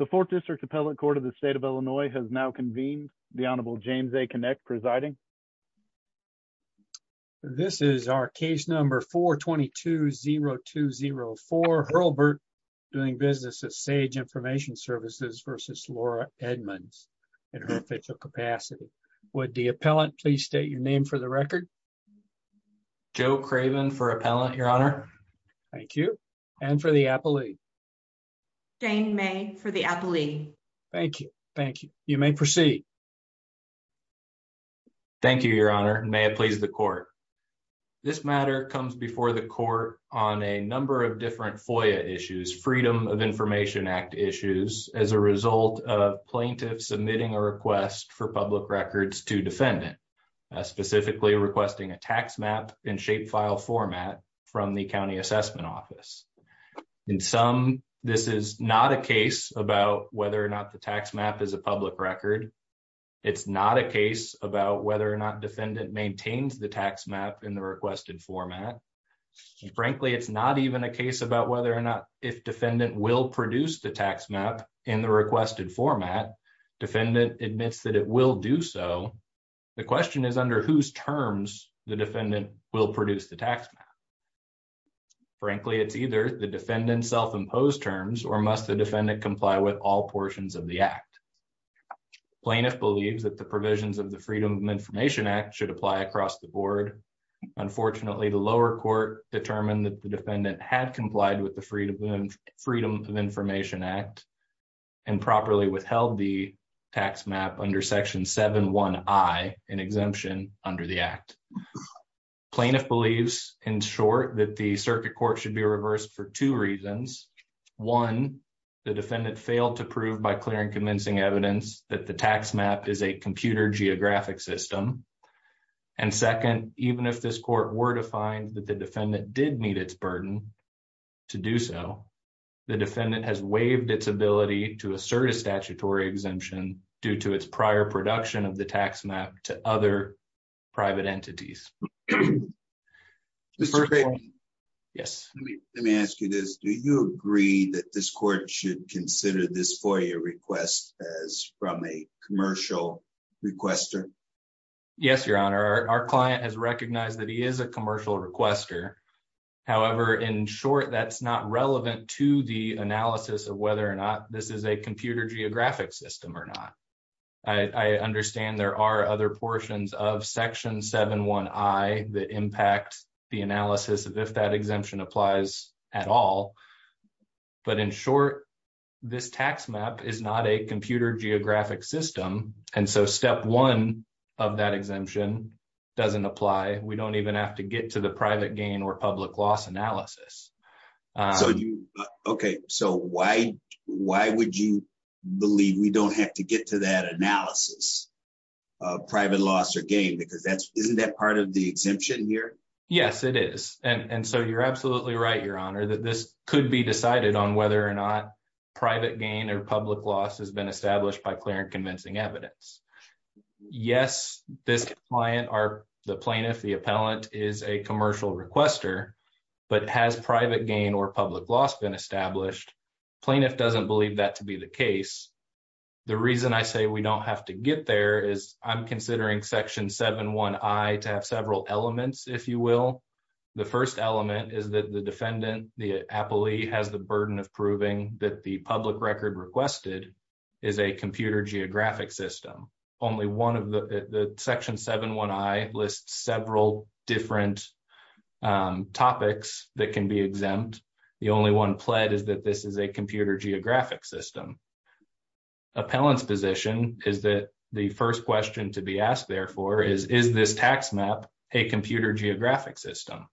The Fourth District Appellate Court of the State of Illinois has now convened. The Honorable James A. Kinect presiding. This is our case number 422-0204 Hurlbert doing business at Sage Information Services versus Laura Edmonds in her official capacity. Would the appellant please state your name for the record? Joe Craven for appellant, your honor. Thank you. And for the appellee? Jane May for the appellee. Thank you. Thank you. You may proceed. Thank you, your honor. May it please the court. This matter comes before the court on a number of different FOIA issues, Freedom of Information Act issues, as a result of plaintiffs submitting a request for public records to defendant. Specifically requesting a tax map in shape file format from the county assessment office. In sum, this is not a case about whether or not the tax map is a public record. It's not a case about whether or not defendant maintains the tax map in the requested format. Frankly, it's not even a case about whether or not if defendant will produce the tax map in the requested format. Defendant admits that it will do so. The question is under whose terms the defendant will produce the tax map. Frankly, it's either the defendant's self-imposed terms or must the defendant comply with all portions of the act. Plaintiff believes that the provisions of the Freedom of Information Act should apply across the board. Unfortunately, the lower court determined that the defendant had complied with the Freedom of Information Act and properly withheld the tax map under section 7.1.I, an exemption under the act. Plaintiff believes, in short, that the circuit court should be reversed for two reasons. One, the defendant failed to prove by clear and convincing evidence that the tax map is a computer geographic system. And second, even if this court were to find that the defendant did meet its burden to do so, the defendant has waived its ability to assert a statutory exemption due to its prior production of the tax map to other private entities. Mr. Craven, let me ask you this. Do you agree that this court should consider this FOIA request as from a commercial requester? Yes, Your Honor. Our client has recognized that he is a commercial requester. However, in short, that's not relevant to the analysis of whether or not this is a computer geographic system or not. I understand there are other portions of section 7.1.I that impact the analysis of if that exemption applies at all. But in short, this tax map is not a computer geographic system. And so step one of that exemption doesn't apply. We don't even have to get to the private gain or public loss analysis. Okay. So why would you believe we don't have to get to that analysis of private loss or gain? Because isn't that part of the exemption here? Yes, it is. And so you're absolutely right, Your Honor, that this could be decided on whether or not private gain or public loss has been established by clear and convincing evidence. Yes, this client, the plaintiff, the appellant is a commercial requester, but has private gain or public loss been established? Plaintiff doesn't believe that to be the case. The reason I say we don't have to get there is I'm considering section 7.1.I to have several elements, if you will. The first element is that the defendant, the appellee, has the burden of proving that the public record requested is a computer geographic system. Section 7.1.I lists several different topics that can be exempt. The only one pled is that this is a computer geographic system. Appellant's position is that the first question to be asked, therefore, is, is this tax map a computer geographic system?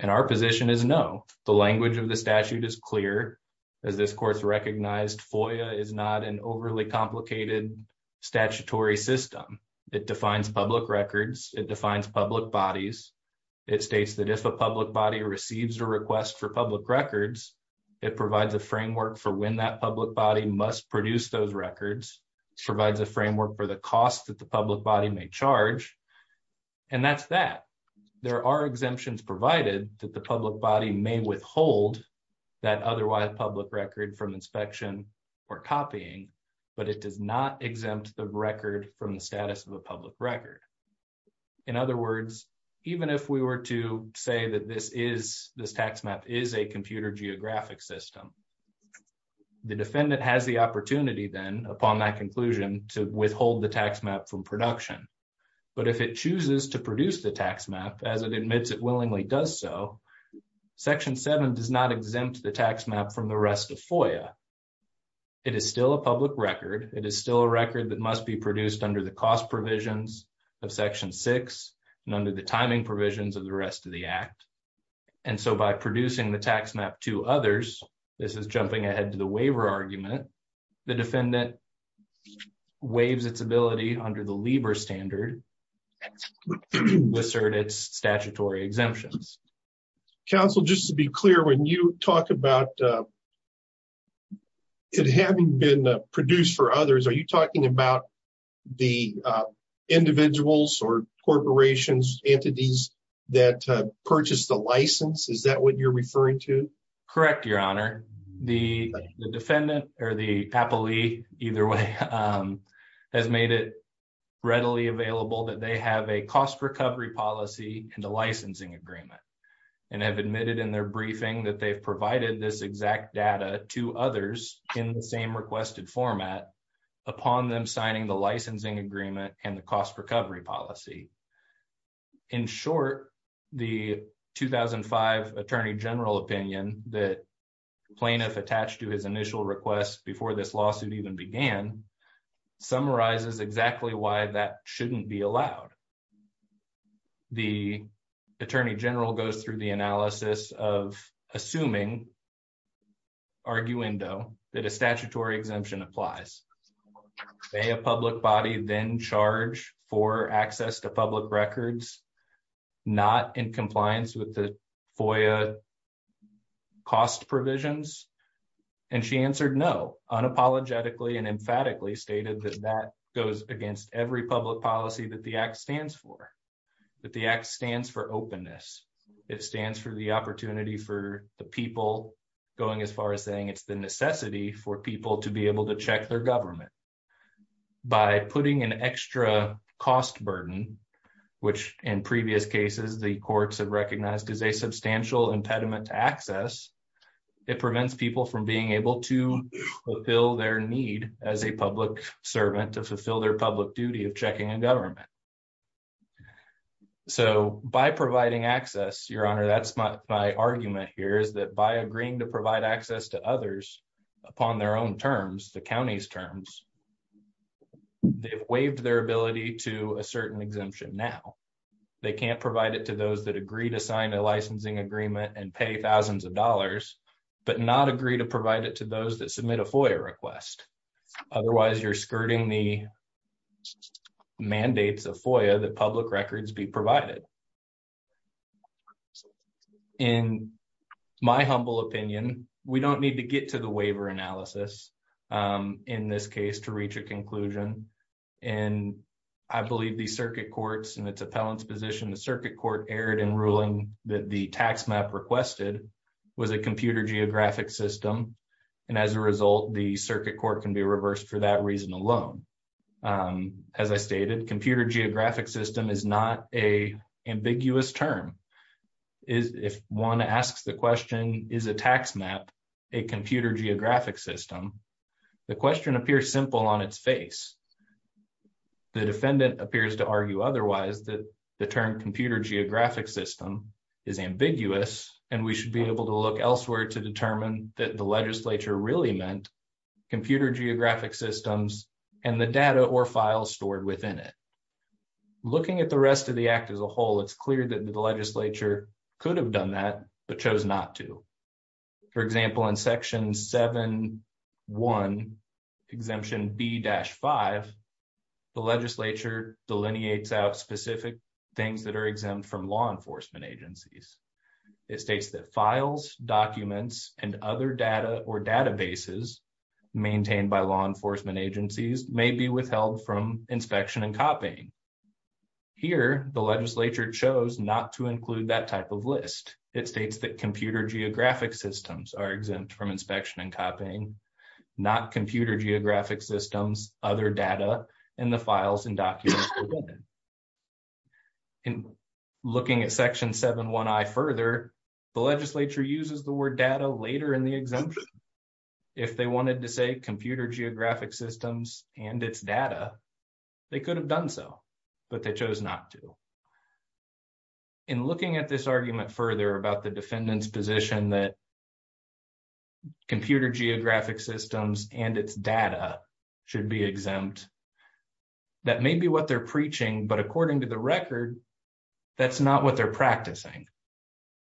And our position is no. The language of the statute is clear. As this court's recognized, FOIA is not an overly complicated statutory system. It defines public records. It defines public bodies. It states that if a public body receives a request for public records, it provides a framework for when that public body must produce those records. It provides a framework for the cost that the public body may charge. And that's that. There are exemptions provided that the public body may withhold that otherwise public record from inspection or copying, but it does not exempt the record from the status of a public record. In other words, even if we were to say that this is this tax map is a computer geographic system. The defendant has the opportunity then upon that conclusion to withhold the tax map from production. But if it chooses to produce the tax map, as it admits, it willingly does so. Section 7 does not exempt the tax map from the rest of FOIA. It is still a public record. It is still a record that must be produced under the cost provisions of Section 6 and under the timing provisions of the rest of the act. And so by producing the tax map to others, this is jumping ahead to the waiver argument. The defendant waives its ability under the LIBOR standard to assert its statutory exemptions. Counsel, just to be clear, when you talk about it having been produced for others, are you talking about the individuals or corporations, entities that purchased the license? Is that what you're referring to? Correct, Your Honor. The defendant or the appellee either way has made it readily available that they have a cost recovery policy and a licensing agreement. And have admitted in their briefing that they've provided this exact data to others in the same requested format upon them signing the licensing agreement and the cost recovery policy. In short, the 2005 Attorney General opinion that plaintiff attached to his initial request before this lawsuit even began summarizes exactly why that shouldn't be allowed. The Attorney General goes through the analysis of assuming, arguendo, that a statutory exemption applies. May a public body then charge for access to public records not in compliance with the FOIA cost provisions? And she answered no, unapologetically and emphatically stated that that goes against every public policy that the act stands for. That the act stands for openness. It stands for the opportunity for the people going as far as saying it's the necessity for people to be able to check their government. By putting an extra cost burden, which in previous cases the courts have recognized is a substantial impediment to access, it prevents people from being able to fulfill their need as a public servant to fulfill their public duty of checking a government. So by providing access, Your Honor, that's my argument here is that by agreeing to provide access to others upon their own terms, the county's terms, they've waived their ability to a certain exemption now. They can't provide it to those that agree to sign a licensing agreement and pay thousands of dollars, but not agree to provide it to those that submit a FOIA request. Otherwise, you're skirting the mandates of FOIA that public records be provided. In my humble opinion, we don't need to get to the waiver analysis in this case to reach a conclusion. And I believe the circuit courts and its appellant's position, the circuit court erred in ruling that the tax map requested was a computer geographic system. And as a result, the circuit court can be reversed for that reason alone. As I stated, computer geographic system is not a ambiguous term. If one asks the question, is a tax map a computer geographic system, the question appears simple on its face. The defendant appears to argue otherwise that the term computer geographic system is ambiguous, and we should be able to look elsewhere to determine that the legislature really meant computer geographic systems and the data or files stored within it. Looking at the rest of the act as a whole, it's clear that the legislature could have done that, but chose not to. For example, in Section 7.1, Exemption B-5, the legislature delineates out specific things that are exempt from law enforcement agencies. It states that files, documents, and other data or databases maintained by law enforcement agencies may be withheld from inspection and copying. Here, the legislature chose not to include that type of list. It states that computer geographic systems are exempt from inspection and copying, not computer geographic systems, other data, and the files and documents. In looking at Section 7.1i further, the legislature uses the word data later in the exemption. If they wanted to say computer geographic systems and its data, they could have done so, but they chose not to. In looking at this argument further about the defendant's position that computer geographic systems and its data should be exempt, that may be what they're preaching, but according to the record, that's not what they're practicing.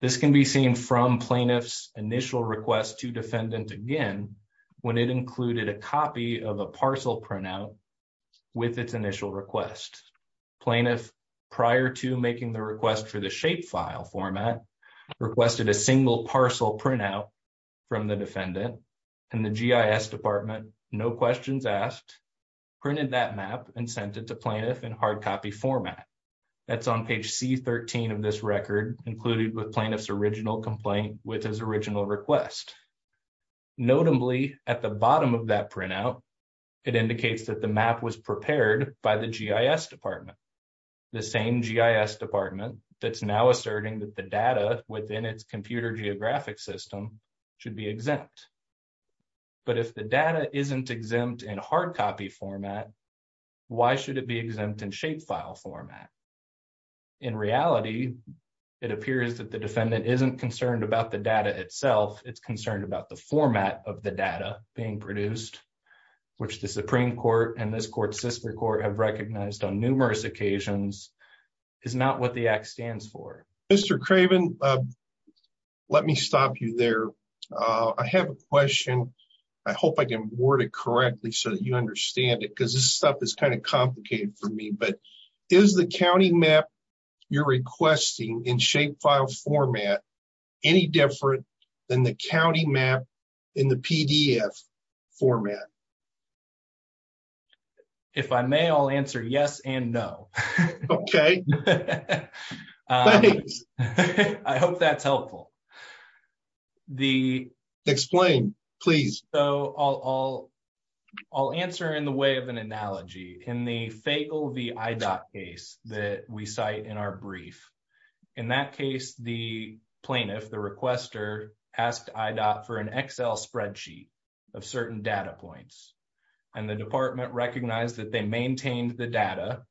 This can be seen from plaintiff's initial request to defendant again when it included a copy of a parcel printout with its initial request. Plaintiff, prior to making the request for the shapefile format, requested a single parcel printout from the defendant, and the GIS Department, no questions asked, printed that map and sent it to plaintiff in hardcopy format. That's on page C-13 of this record, included with plaintiff's original complaint with his original request. Notably, at the bottom of that printout, it indicates that the map was prepared by the GIS Department, the same GIS Department that's now asserting that the data within its computer geographic system should be exempt. But if the data isn't exempt in hardcopy format, why should it be exempt in shapefile format? In reality, it appears that the defendant isn't concerned about the data itself, it's concerned about the format of the data being produced, which the Supreme Court and this court's sister court have recognized on numerous occasions, is not what the act stands for. Mr. Craven, let me stop you there. I have a question. I hope I can word it correctly so that you understand it, because this stuff is kind of complicated for me, but is the county map you're requesting in shapefile format any different than the county map in the PDF format? If I may, I'll answer yes and no. Okay. Thanks. I hope that's helpful. Explain, please. So, I'll answer in the way of an analogy. In the Faygo v. IDOT case that we cite in our brief, in that case, the plaintiff, the requester, asked IDOT for an Excel spreadsheet of certain data points, and the department recognized that they maintained the data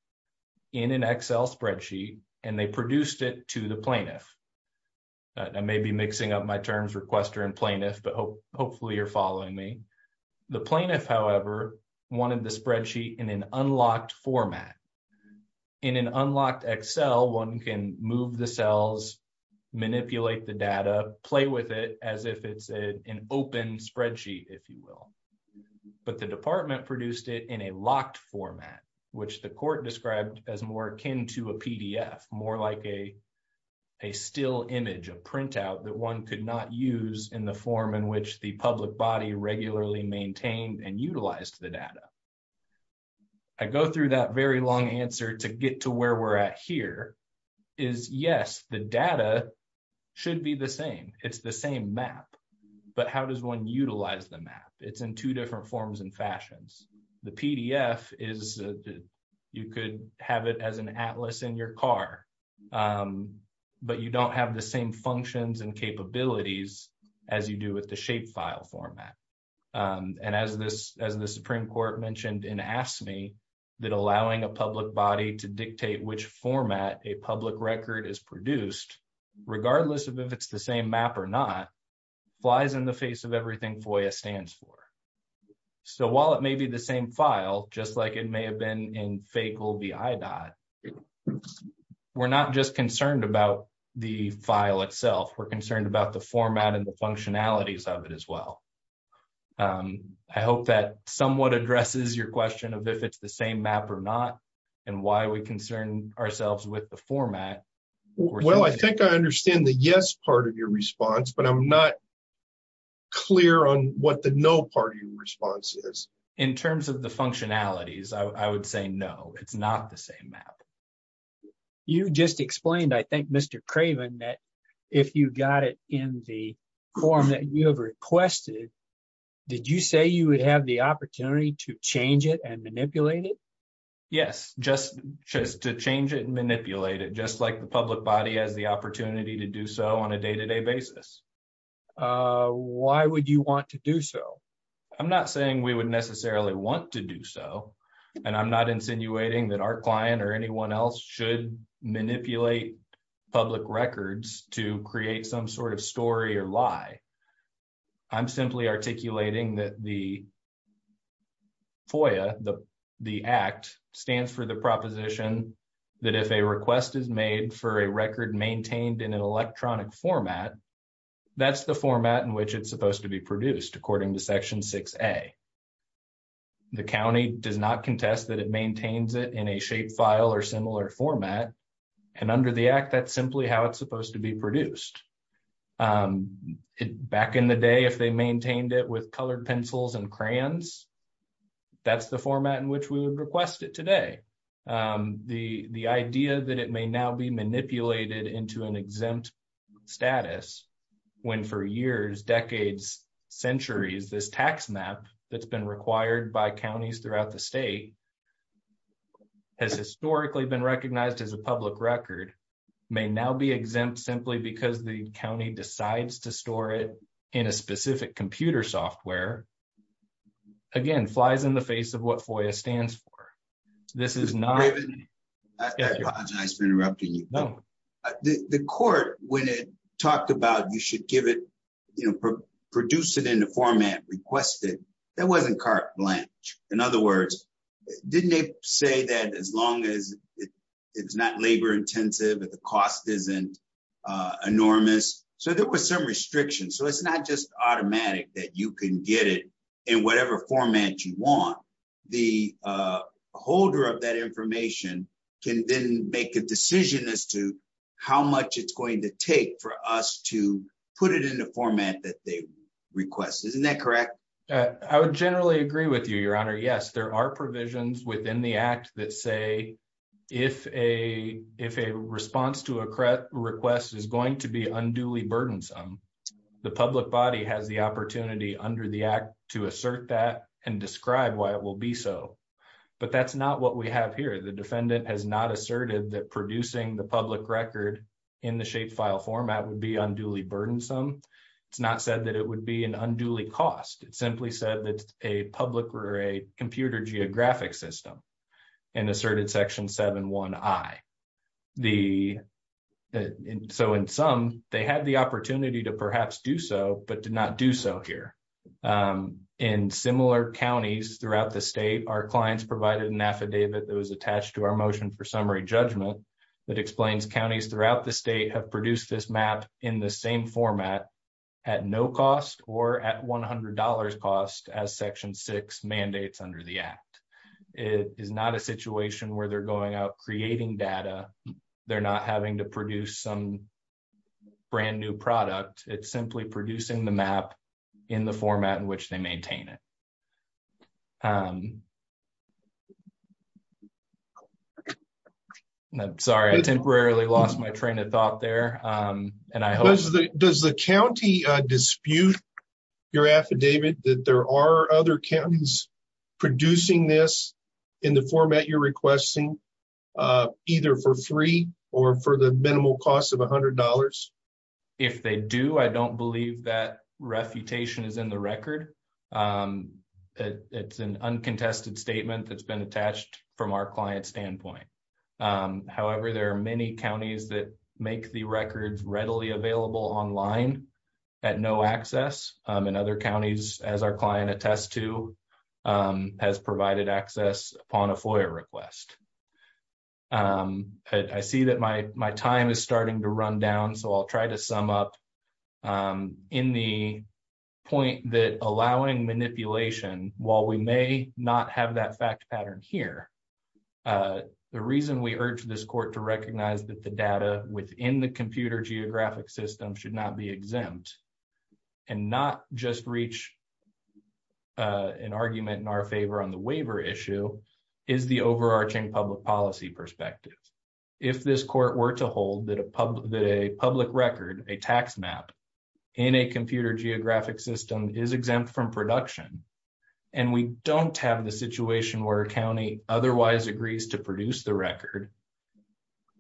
in an Excel spreadsheet, and they produced it to the plaintiff. I may be mixing up my terms, requester and plaintiff, but hopefully you're following me. The plaintiff, however, wanted the spreadsheet in an unlocked format. In an unlocked Excel, one can move the cells, manipulate the data, play with it as if it's an open spreadsheet, if you will. But the department produced it in a locked format, which the court described as more akin to a PDF, more like a still image, a printout that one could not use in the form in which the public body regularly maintained and utilized the data. I go through that very long answer to get to where we're at here is, yes, the data should be the same. It's the same map. But how does one utilize the map? It's in two different forms and fashions. The PDF is, you could have it as an atlas in your car, but you don't have the same functions and capabilities as you do with the shapefile format. And as the Supreme Court mentioned in AFSCME, that allowing a public body to dictate which format a public record is produced, regardless of if it's the same map or not, flies in the face of everything FOIA stands for. So while it may be the same file, just like it may have been in FACLBI. We're not just concerned about the file itself. We're concerned about the format and the functionalities of it as well. I hope that somewhat addresses your question of if it's the same map or not, and why we concern ourselves with the format. Well, I think I understand the yes part of your response, but I'm not clear on what the no part of your response is. In terms of the functionalities, I would say no, it's not the same map. You just explained, I think, Mr. Craven, that if you got it in the form that you have requested, did you say you would have the opportunity to change it and manipulate it? Yes, just to change it and manipulate it, just like the public body has the opportunity to do so on a day-to-day basis. Why would you want to do so? I'm not saying we would necessarily want to do so, and I'm not insinuating that our client or anyone else should manipulate public records to create some sort of story or lie. I'm simply articulating that the FOIA, the Act, stands for the proposition that if a request is made for a record maintained in an electronic format, that's the format in which it's supposed to be produced, according to Section 6A. The county does not contest that it maintains it in a shapefile or similar format, and under the Act, that's simply how it's supposed to be produced. Back in the day, if they maintained it with colored pencils and crayons, that's the format in which we would request it today. The idea that it may now be manipulated into an exempt status, when for years, decades, centuries, this tax map that's been required by counties throughout the state has historically been recognized as a public record, may now be exempt simply because the county decides to store it in a specific computer software, again, flies in the face of what FOIA stands for. I apologize for interrupting you. No. The court, when it talked about you should produce it in the format requested, that wasn't carte blanche. In other words, didn't they say that as long as it's not labor-intensive, that the cost isn't enormous? So there was some restriction. So it's not just automatic that you can get it in whatever format you want. The holder of that information can then make a decision as to how much it's going to take for us to put it in the format that they request. Isn't that correct? I would generally agree with you, Your Honor. Yes, there are provisions within the act that say if a response to a request is going to be unduly burdensome, the public body has the opportunity under the act to assert that and describe why it will be so. But that's not what we have here. The defendant has not asserted that producing the public record in the shapefile format would be unduly burdensome. It's not said that it would be an unduly cost. It simply said that it's a public or a computer geographic system and asserted Section 7.1.I. So in sum, they had the opportunity to perhaps do so, but did not do so here. In similar counties throughout the state, our clients provided an affidavit that was attached to our motion for summary judgment that explains counties throughout the state have produced this map in the same format at no cost or at $100 cost as Section 6 mandates under the act. It is not a situation where they're going out creating data. They're not having to produce some brand new product. It's simply producing the map in the format in which they maintain it. Sorry, I temporarily lost my train of thought there. Does the county dispute your affidavit that there are other counties producing this in the format you're requesting, either for free or for the minimal cost of $100? If they do, I don't believe that refutation is in the record. It's an uncontested statement that's been attached from our client standpoint. However, there are many counties that make the records readily available online at no access and other counties, as our client attests to, has provided access upon a FOIA request. I see that my time is starting to run down, so I'll try to sum up in the point that allowing manipulation, while we may not have that fact pattern here, the reason we urge this court to recognize that the data within the computer geographic system should not be exempt, and not just reach an argument in our favor on the waiver issue, is the overarching public policy perspective. If this court were to hold that a public record, a tax map in a computer geographic system is exempt from production, and we don't have the situation where a county otherwise agrees to produce the record,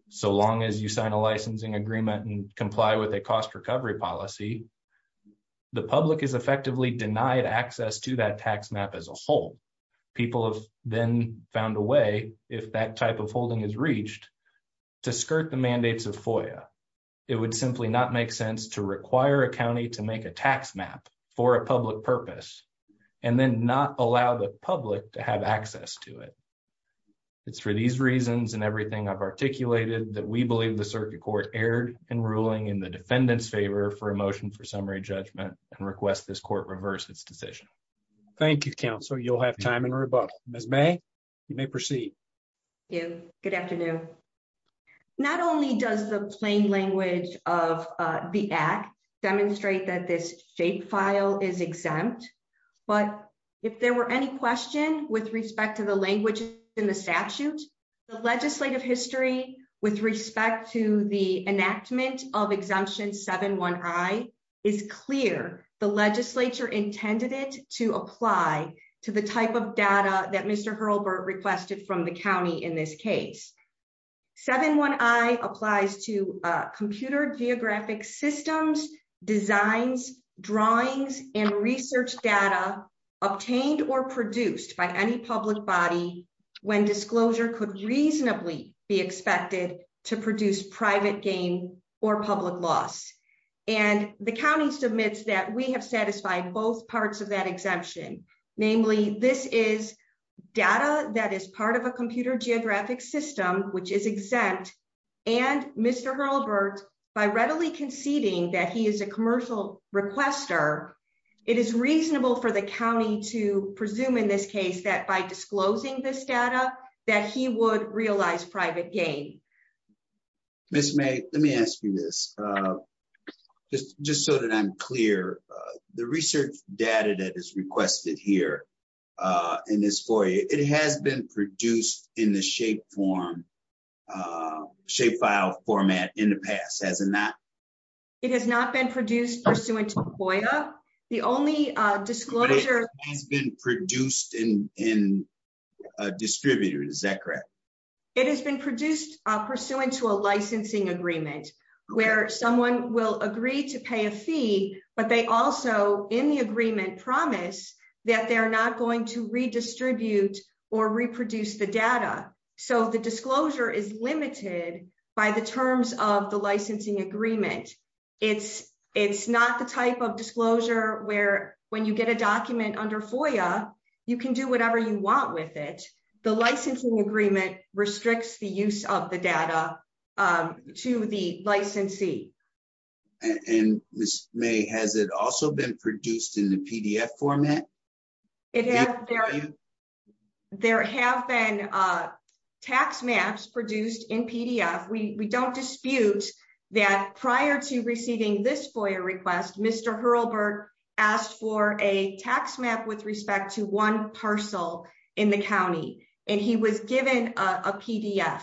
so long as you sign a licensing agreement and comply with a cost recovery policy, the public is effectively denied access to that tax map as a whole. People have then found a way, if that type of holding is reached, to skirt the mandates of FOIA. It would simply not make sense to require a county to make a tax map for a public purpose, and then not allow the public to have access to it. It's for these reasons and everything I've articulated that we believe the Circuit Court erred in ruling in the defendant's favor for a motion for summary judgment, and request this court reverse its decision. Thank you, Counsel. You'll have time in rebuttal. Ms. May, you may proceed. Thank you. Good afternoon. Not only does the plain language of the Act demonstrate that this shapefile is exempt, but if there were any question with respect to the language in the statute, the legislative history with respect to the enactment of Exemption 7-1i is clear. The legislature intended it to apply to the type of data that Mr. Hurlburt requested from the county in this case. 7-1i applies to computer geographic systems, designs, drawings, and research data obtained or produced by any public body when disclosure could reasonably be expected to produce private gain or public loss. And the county submits that we have satisfied both parts of that exemption. Namely, this is data that is part of a computer geographic system, which is exempt, and Mr. Hurlburt, by readily conceding that he is a commercial requester, it is reasonable for the county to presume in this case that by disclosing this data that he would realize private gain. Ms. May, let me ask you this, just so that I'm clear. The research data that is requested here in this FOIA, it has been produced in the shapefile format in the past, has it not? It has not been produced pursuant to FOIA. It has been produced in distributors, is that correct? It has been produced pursuant to a licensing agreement where someone will agree to pay a fee, but they also, in the agreement, promise that they are not going to redistribute or reproduce the data. So the disclosure is limited by the terms of the licensing agreement. It's not the type of disclosure where when you get a document under FOIA, you can do whatever you want with it. The licensing agreement restricts the use of the data to the licensee. And Ms. May, has it also been produced in the PDF format? There have been tax maps produced in PDF. We don't dispute that prior to receiving this FOIA request, Mr. Hurlburt asked for a tax map with respect to one parcel in the county, and he was given a PDF.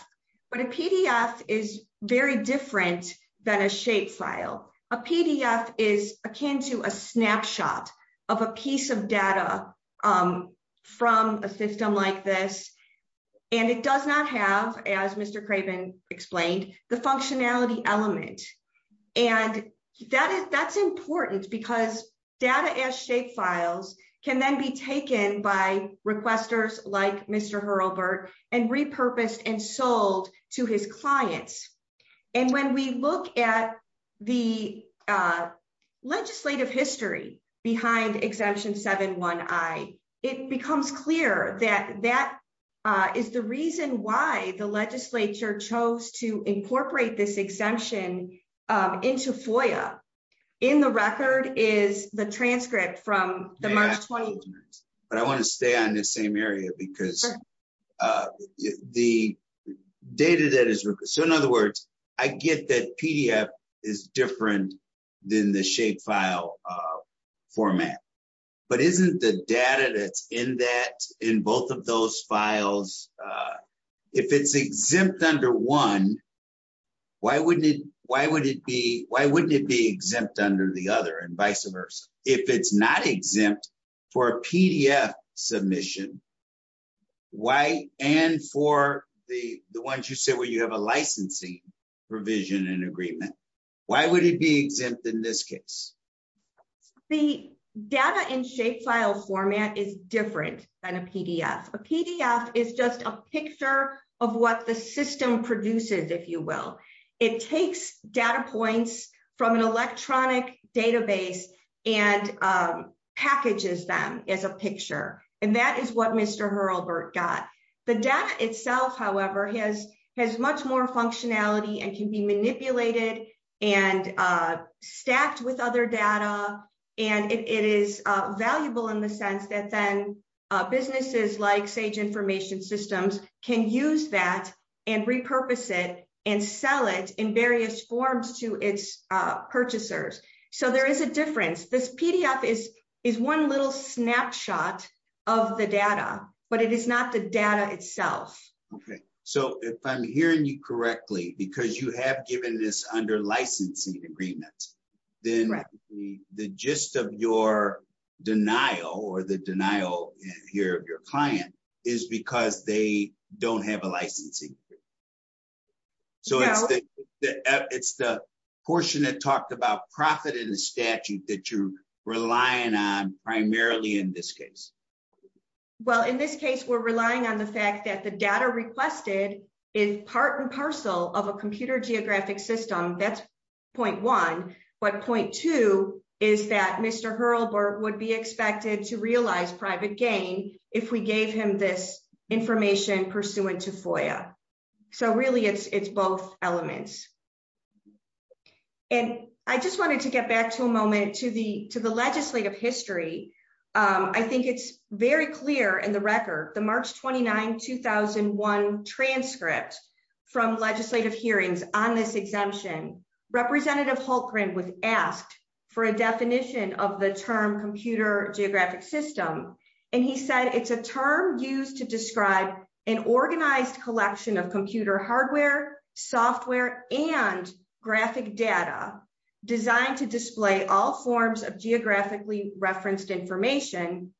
But a PDF is very different than a shapefile. A PDF is akin to a snapshot of a piece of data from a system like this, and it does not have, as Mr. Craven explained, the functionality element. And that's important because data as shapefiles can then be taken by requesters like Mr. Hurlburt and repurposed and sold to his clients. And when we look at the legislative history behind Exemption 7-1i, it becomes clear that that is the reason why the legislature chose to incorporate this exemption into FOIA. In the record is the transcript from the March 21st. But I want to stay on this same area because the data that is requested, so in other words, I get that PDF is different than the shapefile format. But isn't the data that's in that, in both of those files, if it's exempt under one, why wouldn't it be exempt under the other and vice versa? If it's not exempt for a PDF submission, why, and for the ones you said where you have a licensing provision and agreement, why would it be exempt in this case? The data in shapefile format is different than a PDF. A PDF is just a picture of what the system produces, if you will. It takes data points from an electronic database and packages them as a picture. And that is what Mr. Hurlburt got. The data itself, however, has much more functionality and can be manipulated and stacked with other data. And it is valuable in the sense that then businesses like Sage Information Systems can use that and repurpose it and sell it in various forms to its purchasers. So there is a difference. This PDF is one little snapshot of the data, but it is not the data itself. Okay. So if I'm hearing you correctly, because you have given this under licensing agreement, then the gist of your denial or the denial here of your client is because they don't have a licensing agreement. So it's the portion that talked about profit in the statute that you're relying on primarily in this case. Well, in this case, we're relying on the fact that the data requested is part and parcel of a computer geographic system. That's point one. But point two is that Mr. Hurlburt would be expected to realize private gain if we gave him this information pursuant to FOIA. So really, it's both elements. And I just wanted to get back to a moment to the legislative history. I think it's very clear in the record, the March 29, 2001 transcript from legislative hearings on this exemption, Representative Hultgren was asked for a definition of the term computer geographic system. And he said it's a term used to describe an organized collection of computer hardware, software, and graphic data designed to display all forms of geographically referenced information.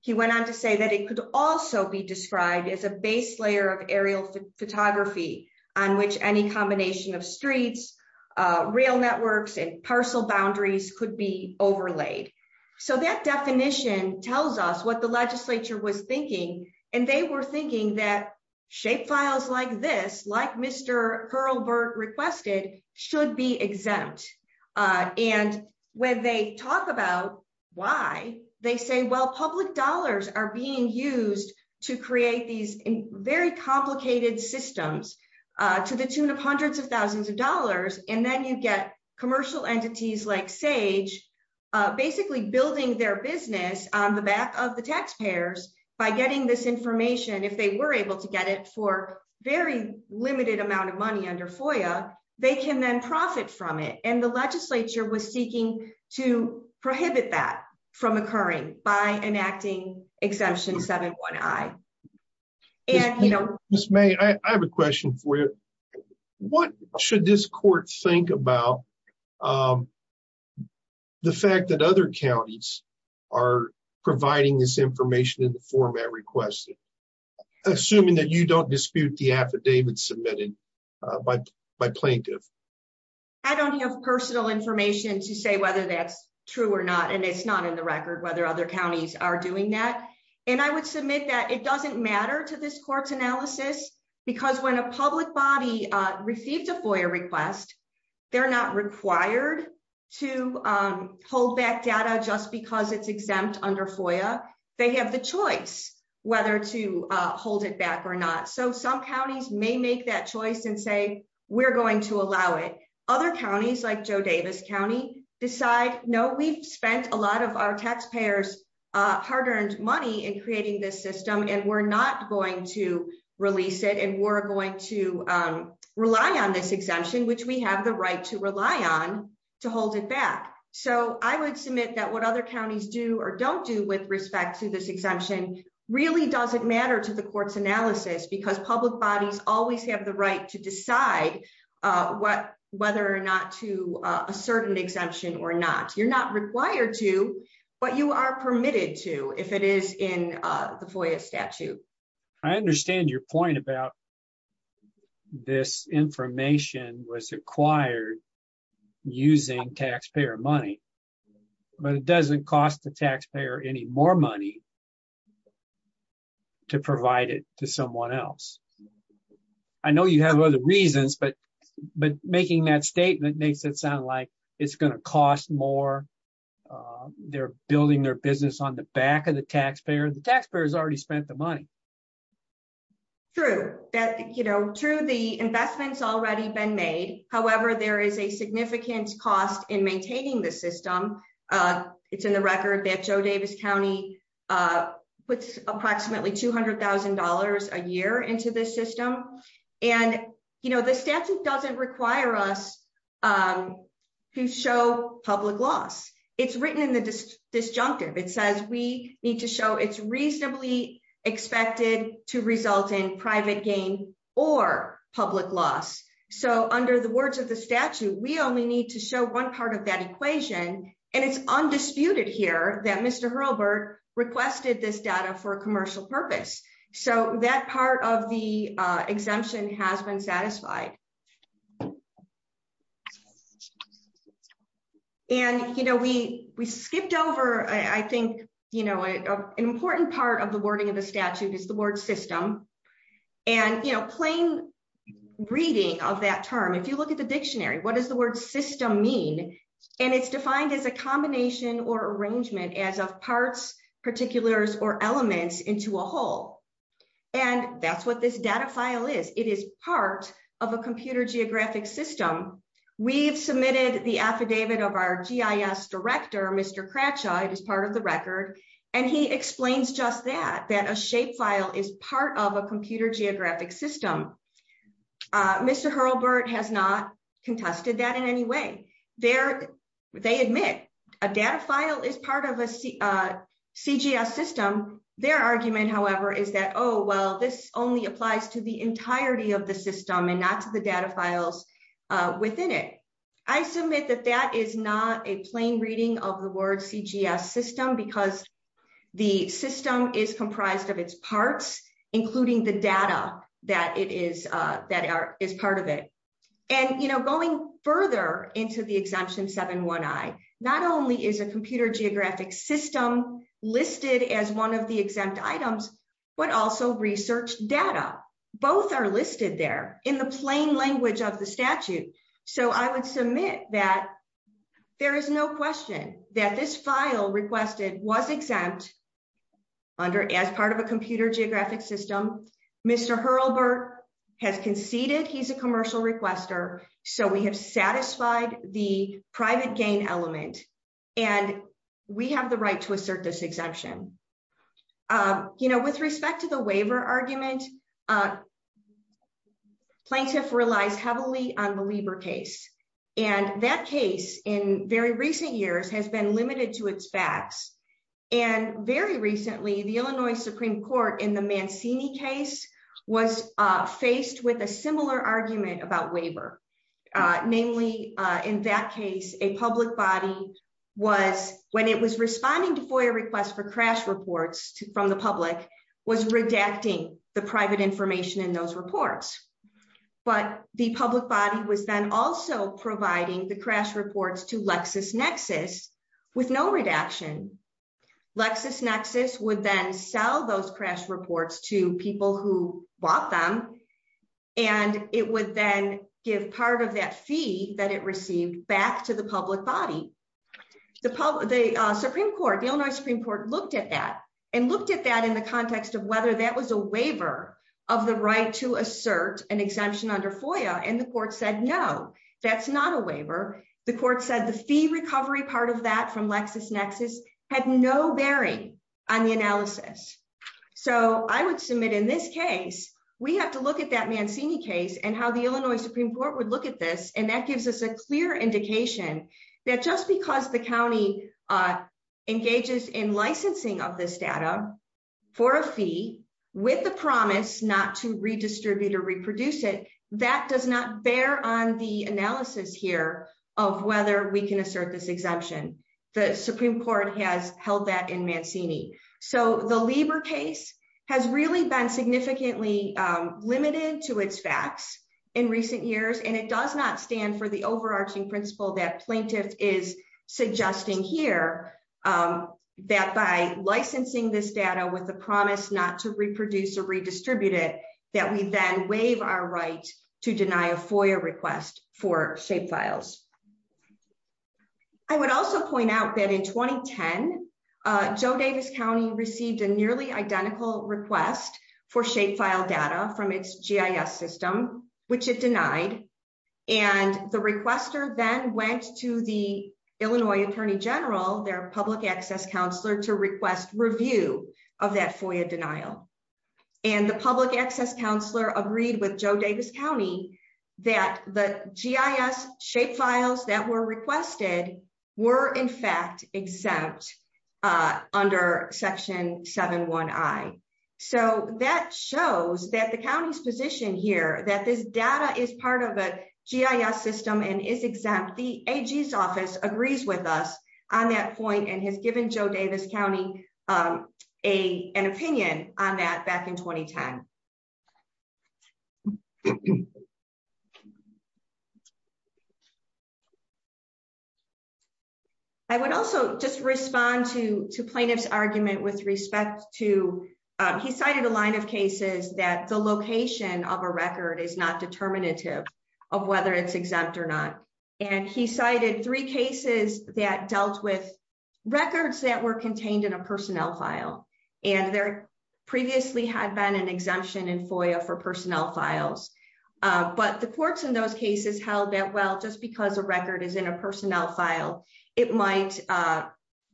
He went on to say that it could also be described as a base layer of aerial photography, on which any combination of streets, rail networks and parcel boundaries could be overlaid. So that definition tells us what the legislature was thinking, and they were thinking that shape files like this, like Mr. Hurlburt requested, should be exempt. And when they talk about why, they say, well, public dollars are being used to create these very complicated systems to the tune of hundreds of thousands of dollars. And then you get commercial entities like SAGE, basically building their business on the back of the taxpayers by getting this information, if they were able to get it for very limited amount of money under FOIA, they can then profit from it. And the legislature was seeking to prohibit that from occurring by enacting Exemption 7.1i. Ms. May, I have a question for you. What should this court think about the fact that other counties are providing this information in the format requested, assuming that you don't dispute the affidavit submitted by plaintiff? I don't have personal information to say whether that's true or not, and it's not in the record whether other counties are doing that. And I would submit that it doesn't matter to this court's analysis, because when a public body received a FOIA request, they're not required to hold back data just because it's exempt under FOIA. They have the choice whether to hold it back or not. So some counties may make that choice and say, we're going to allow it. Other counties, like Joe Davis County, decide, no, we've spent a lot of our taxpayers' hard-earned money in creating this system, and we're not going to release it, and we're going to rely on this exemption, which we have the right to rely on, to hold it back. So I would submit that what other counties do or don't do with respect to this exemption really doesn't matter to the court's analysis, because public bodies always have the right to decide whether or not to assert an exemption or not. You're not required to, but you are permitted to if it is in the FOIA statute. I understand your point about this information was acquired using taxpayer money, but it doesn't cost the taxpayer any more money to provide it to someone else. I know you have other reasons, but making that statement makes it sound like it's going to cost more. They're building their business on the back of the taxpayer. The taxpayer has already spent the money. True, the investment's already been made. However, there is a significant cost in maintaining this system. It's in the record that Joe Davis County puts approximately $200,000 a year into this system. The statute doesn't require us to show public loss. It's written in the disjunctive. It says we need to show it's reasonably expected to result in private gain or public loss. Under the words of the statute, we only need to show one part of that equation, and it's undisputed here that Mr. Hurlburt requested this data for a commercial purpose. That part of the exemption has been satisfied. We skipped over, I think, an important part of the wording of the statute is the word system. Plain reading of that term, if you look at the dictionary, what does the word system mean? It's defined as a combination or arrangement as of parts, particulars, or elements into a whole, and that's what this data file is. It is part of a computer geographic system. We've submitted the affidavit of our GIS director, Mr. Kratcha. It is part of the record, and he explains just that, that a shapefile is part of a computer geographic system. Mr. Hurlburt has not contested that in any way. They admit a data file is part of a CGS system. Their argument, however, is that, oh, well, this only applies to the entirety of the system and not to the data files within it. I submit that that is not a plain reading of the word CGS system because the system is comprised of its parts, including the data that is part of it. And, you know, going further into the exemption 7-1-I, not only is a computer geographic system listed as one of the exempt items, but also research data. Both are listed there in the plain language of the statute. So I would submit that there is no question that this file requested was exempt as part of a computer geographic system. Mr. Hurlburt has conceded he's a commercial requester, so we have satisfied the private gain element, and we have the right to assert this exemption. You know, with respect to the waiver argument, plaintiff relies heavily on the Lieber case, and that case in very recent years has been limited to its facts. And very recently, the Illinois Supreme Court in the Mancini case was faced with a similar argument about waiver. Namely, in that case, a public body was, when it was responding to FOIA requests for crash reports from the public, was redacting the private information in those reports. But the public body was then also providing the crash reports to LexisNexis with no redaction. LexisNexis would then sell those crash reports to people who bought them, and it would then give part of that fee that it received back to the public body. The Supreme Court, the Illinois Supreme Court, looked at that and looked at that in the context of whether that was a waiver of the right to assert an exemption under FOIA, and the court said no, that's not a waiver. The court said the fee recovery part of that from LexisNexis had no bearing on the analysis. So I would submit in this case, we have to look at that Mancini case and how the Illinois Supreme Court would look at this, and that gives us a clear indication that just because the county engages in licensing of this data for a fee with the promise not to redistribute or reproduce it, that does not bear on the analysis here of whether we can assert this exemption. The Supreme Court has held that in Mancini. So the Lieber case has really been significantly limited to its facts in recent years, and it does not stand for the overarching principle that plaintiff is suggesting here, that by licensing this data with the promise not to reproduce or redistribute it, that we then waive our right to deny a FOIA request for shapefiles. I would also point out that in 2010, Joe Davis County received a nearly identical request for shapefile data from its GIS system, which it denied, and the requester then went to the Illinois Attorney General, their public access counselor, to request review of that FOIA denial. And the public access counselor agreed with Joe Davis County that the GIS shapefiles that were requested were in fact exempt under Section 7-1i. So that shows that the county's position here, that this data is part of a GIS system and is exempt. The AG's office agrees with us on that point and has given Joe Davis County an opinion on that back in 2010. I would also just respond to plaintiff's argument with respect to, he cited a line of cases that the location of a record is not determinative of whether it's exempt or not. And he cited three cases that dealt with records that were contained in a personnel file, and there previously had been an exemption in FOIA for personnel files, but the courts in those cases held that well, just because a record is in a personnel file, it might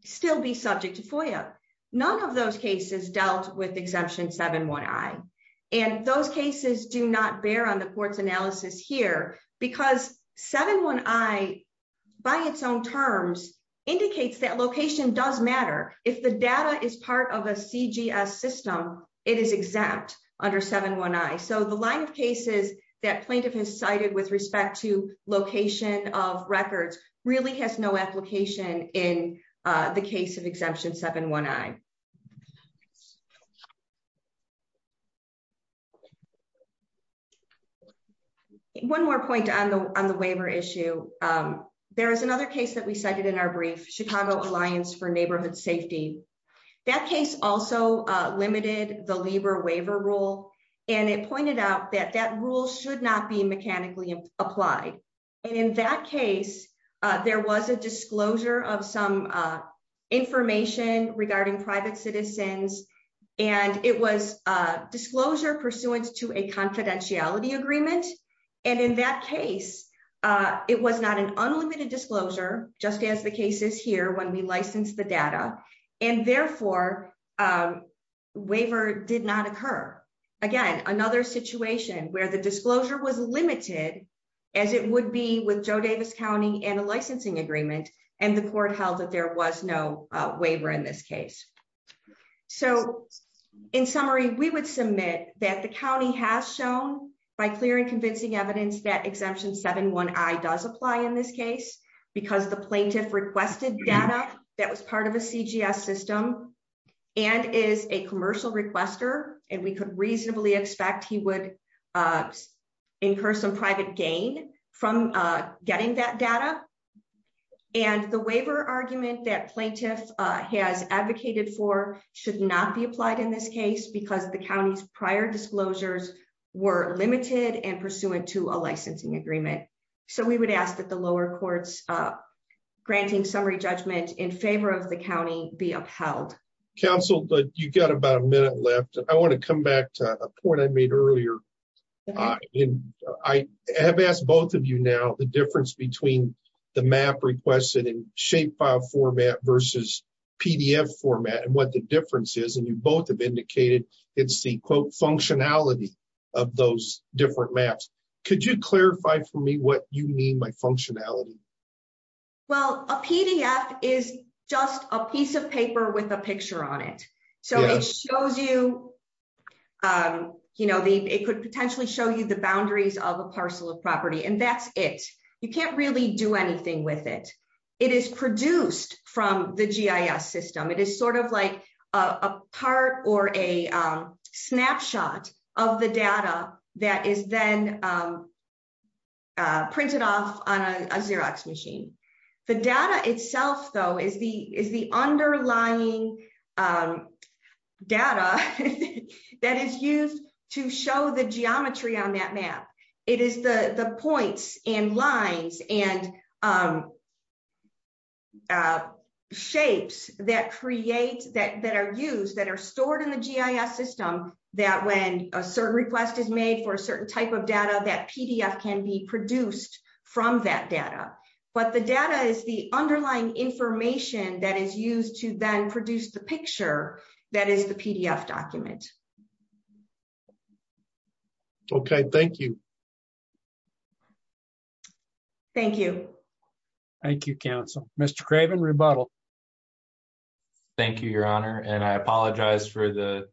still be subject to FOIA. None of those cases dealt with Exemption 7-1i. And those cases do not bear on the court's analysis here, because 7-1i, by its own terms, indicates that location does matter. If the data is part of a CGS system, it is exempt under 7-1i. So the line of cases that plaintiff has cited with respect to location of records really has no application in the case of Exemption 7-1i. One more point on the waiver issue. There is another case that we cited in our brief, Chicago Alliance for Neighborhood Safety. That case also limited the LIBOR waiver rule, and it pointed out that that rule should not be mechanically applied. And in that case, there was a disclosure of some information regarding private citizens, and it was a disclosure pursuant to a confidentiality agreement. And in that case, it was not an unlimited disclosure, just as the cases here when we licensed the data, and therefore, waiver did not occur. Again, another situation where the disclosure was limited, as it would be with Joe Davis County and a licensing agreement, and the court held that there was no waiver in this case. So, in summary, we would submit that the county has shown by clear and convincing evidence that Exemption 7-1i does apply in this case, because the plaintiff requested data that was part of a CGS system and is a commercial requester, and we could reasonably expect he would incur some private gain from getting that data. And the waiver argument that plaintiff has advocated for should not be applied in this case, because the county's prior disclosures were limited and pursuant to a licensing agreement. So, we would ask that the lower courts granting summary judgment in favor of the county be upheld. Counsel, you've got about a minute left. I want to come back to a point I made earlier. I have asked both of you now the difference between the map requested in shape file format versus PDF format and what the difference is, and you both have indicated it's the quote functionality of those different maps. Could you clarify for me what you mean by functionality? Well, a PDF is just a piece of paper with a picture on it. So it shows you, you know, it could potentially show you the boundaries of a parcel of property, and that's it. You can't really do anything with it. It is produced from the GIS system. It is sort of like a part or a snapshot of the data that is then printed off on a Xerox machine. The data itself, though, is the underlying data that is used to show the geometry on that map. It is the points and lines and shapes that create, that are used, that are stored in the GIS system that when a certain request is made for a certain type of data, that PDF can be produced from that data. But the data is the underlying information that is used to then produce the picture that is the PDF document. Okay, thank you. Thank you. Thank you, Council. Mr. Craven, rebuttal. Thank you, Your Honor, and I apologize for the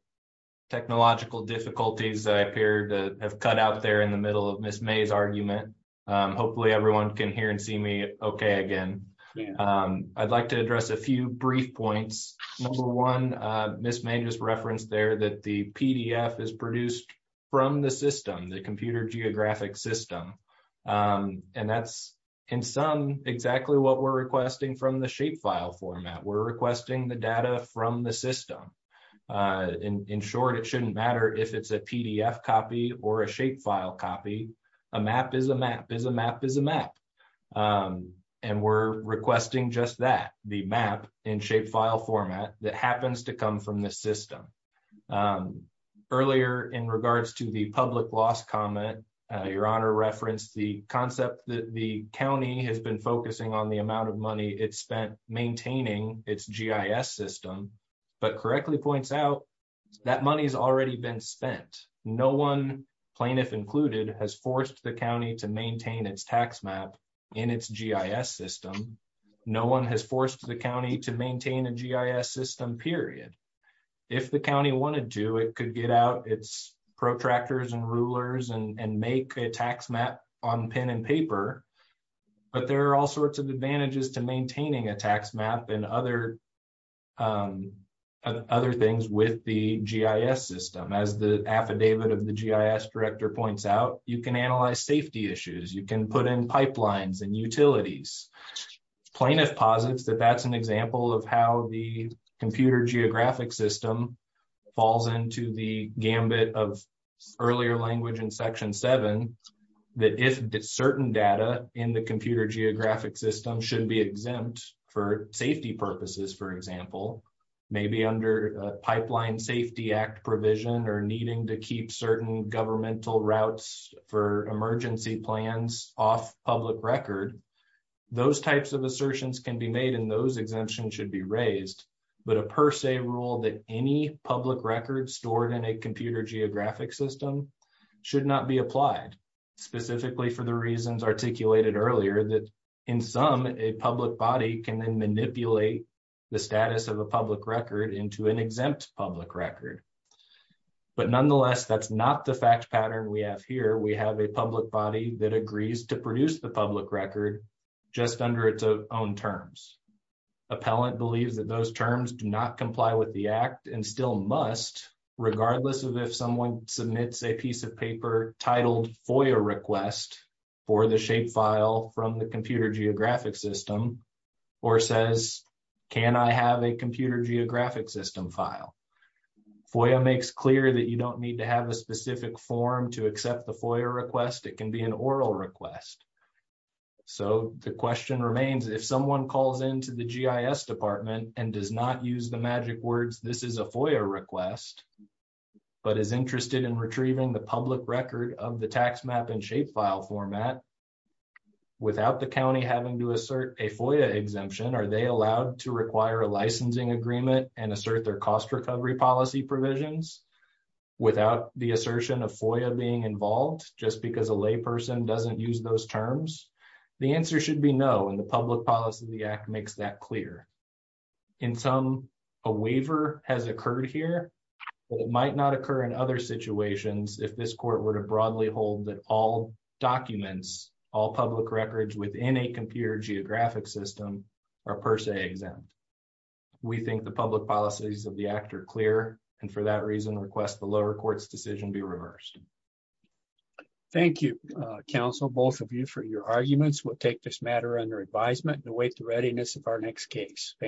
technological difficulties that I appear to have cut out there in the middle of Miss May's argument. Hopefully everyone can hear and see me okay again. I'd like to address a few brief points. Number one, Miss May just referenced there that the PDF is produced from the system, the computer geographic system. And that's, in sum, exactly what we're requesting from the shapefile format. We're requesting the data from the system. In short, it shouldn't matter if it's a PDF copy or a shapefile copy. A map is a map is a map is a map. And we're requesting just that, the map in shapefile format that happens to come from the system. Earlier in regards to the public loss comment, Your Honor referenced the concept that the county has been focusing on the amount of money it spent maintaining its GIS system. But correctly points out that money has already been spent. No one, plaintiff included, has forced the county to maintain its tax map in its GIS system. No one has forced the county to maintain a GIS system, period. If the county wanted to, it could get out its protractors and rulers and make a tax map on pen and paper. But there are all sorts of advantages to maintaining a tax map and other things with the GIS system. As the affidavit of the GIS director points out, you can analyze safety issues. You can put in pipelines and utilities. Plaintiff posits that that's an example of how the computer geographic system falls into the gambit of earlier language in Section 7. That if certain data in the computer geographic system should be exempt for safety purposes, for example, maybe under Pipeline Safety Act provision or needing to keep certain governmental routes for emergency plans off public record, those types of assertions can be made and those exemptions should be raised. But a per se rule that any public record stored in a computer geographic system should not be applied, specifically for the reasons articulated earlier that in some, a public body can then manipulate the status of a public record into an exempt public record. But nonetheless, that's not the fact pattern we have here. We have a public body that agrees to produce the public record just under its own terms. Appellant believes that those terms do not comply with the Act and still must, regardless of if someone submits a piece of paper titled FOIA request for the shapefile from the computer geographic system or says, can I have a computer geographic system file? FOIA makes clear that you don't need to have a specific form to accept the FOIA request. It can be an oral request. So the question remains, if someone calls into the GIS Department and does not use the magic words, this is a FOIA request, but is interested in retrieving the public record of the tax map and shapefile format, without the county having to assert a FOIA exemption, are they allowed to require a licensing agreement and assert their cost recovery policy provisions without the assertion of FOIA being involved just because a lay person doesn't use those terms? The answer should be no, and the public policy of the Act makes that clear. In sum, a waiver has occurred here, but it might not occur in other situations if this court were to broadly hold that all documents, all public records within a computer geographic system are per se exempt. We think the public policies of the Act are clear, and for that reason request the lower court's decision be reversed. Thank you, counsel, both of you for your arguments. We'll take this matter under advisement and await the readiness of our next case. Thank you.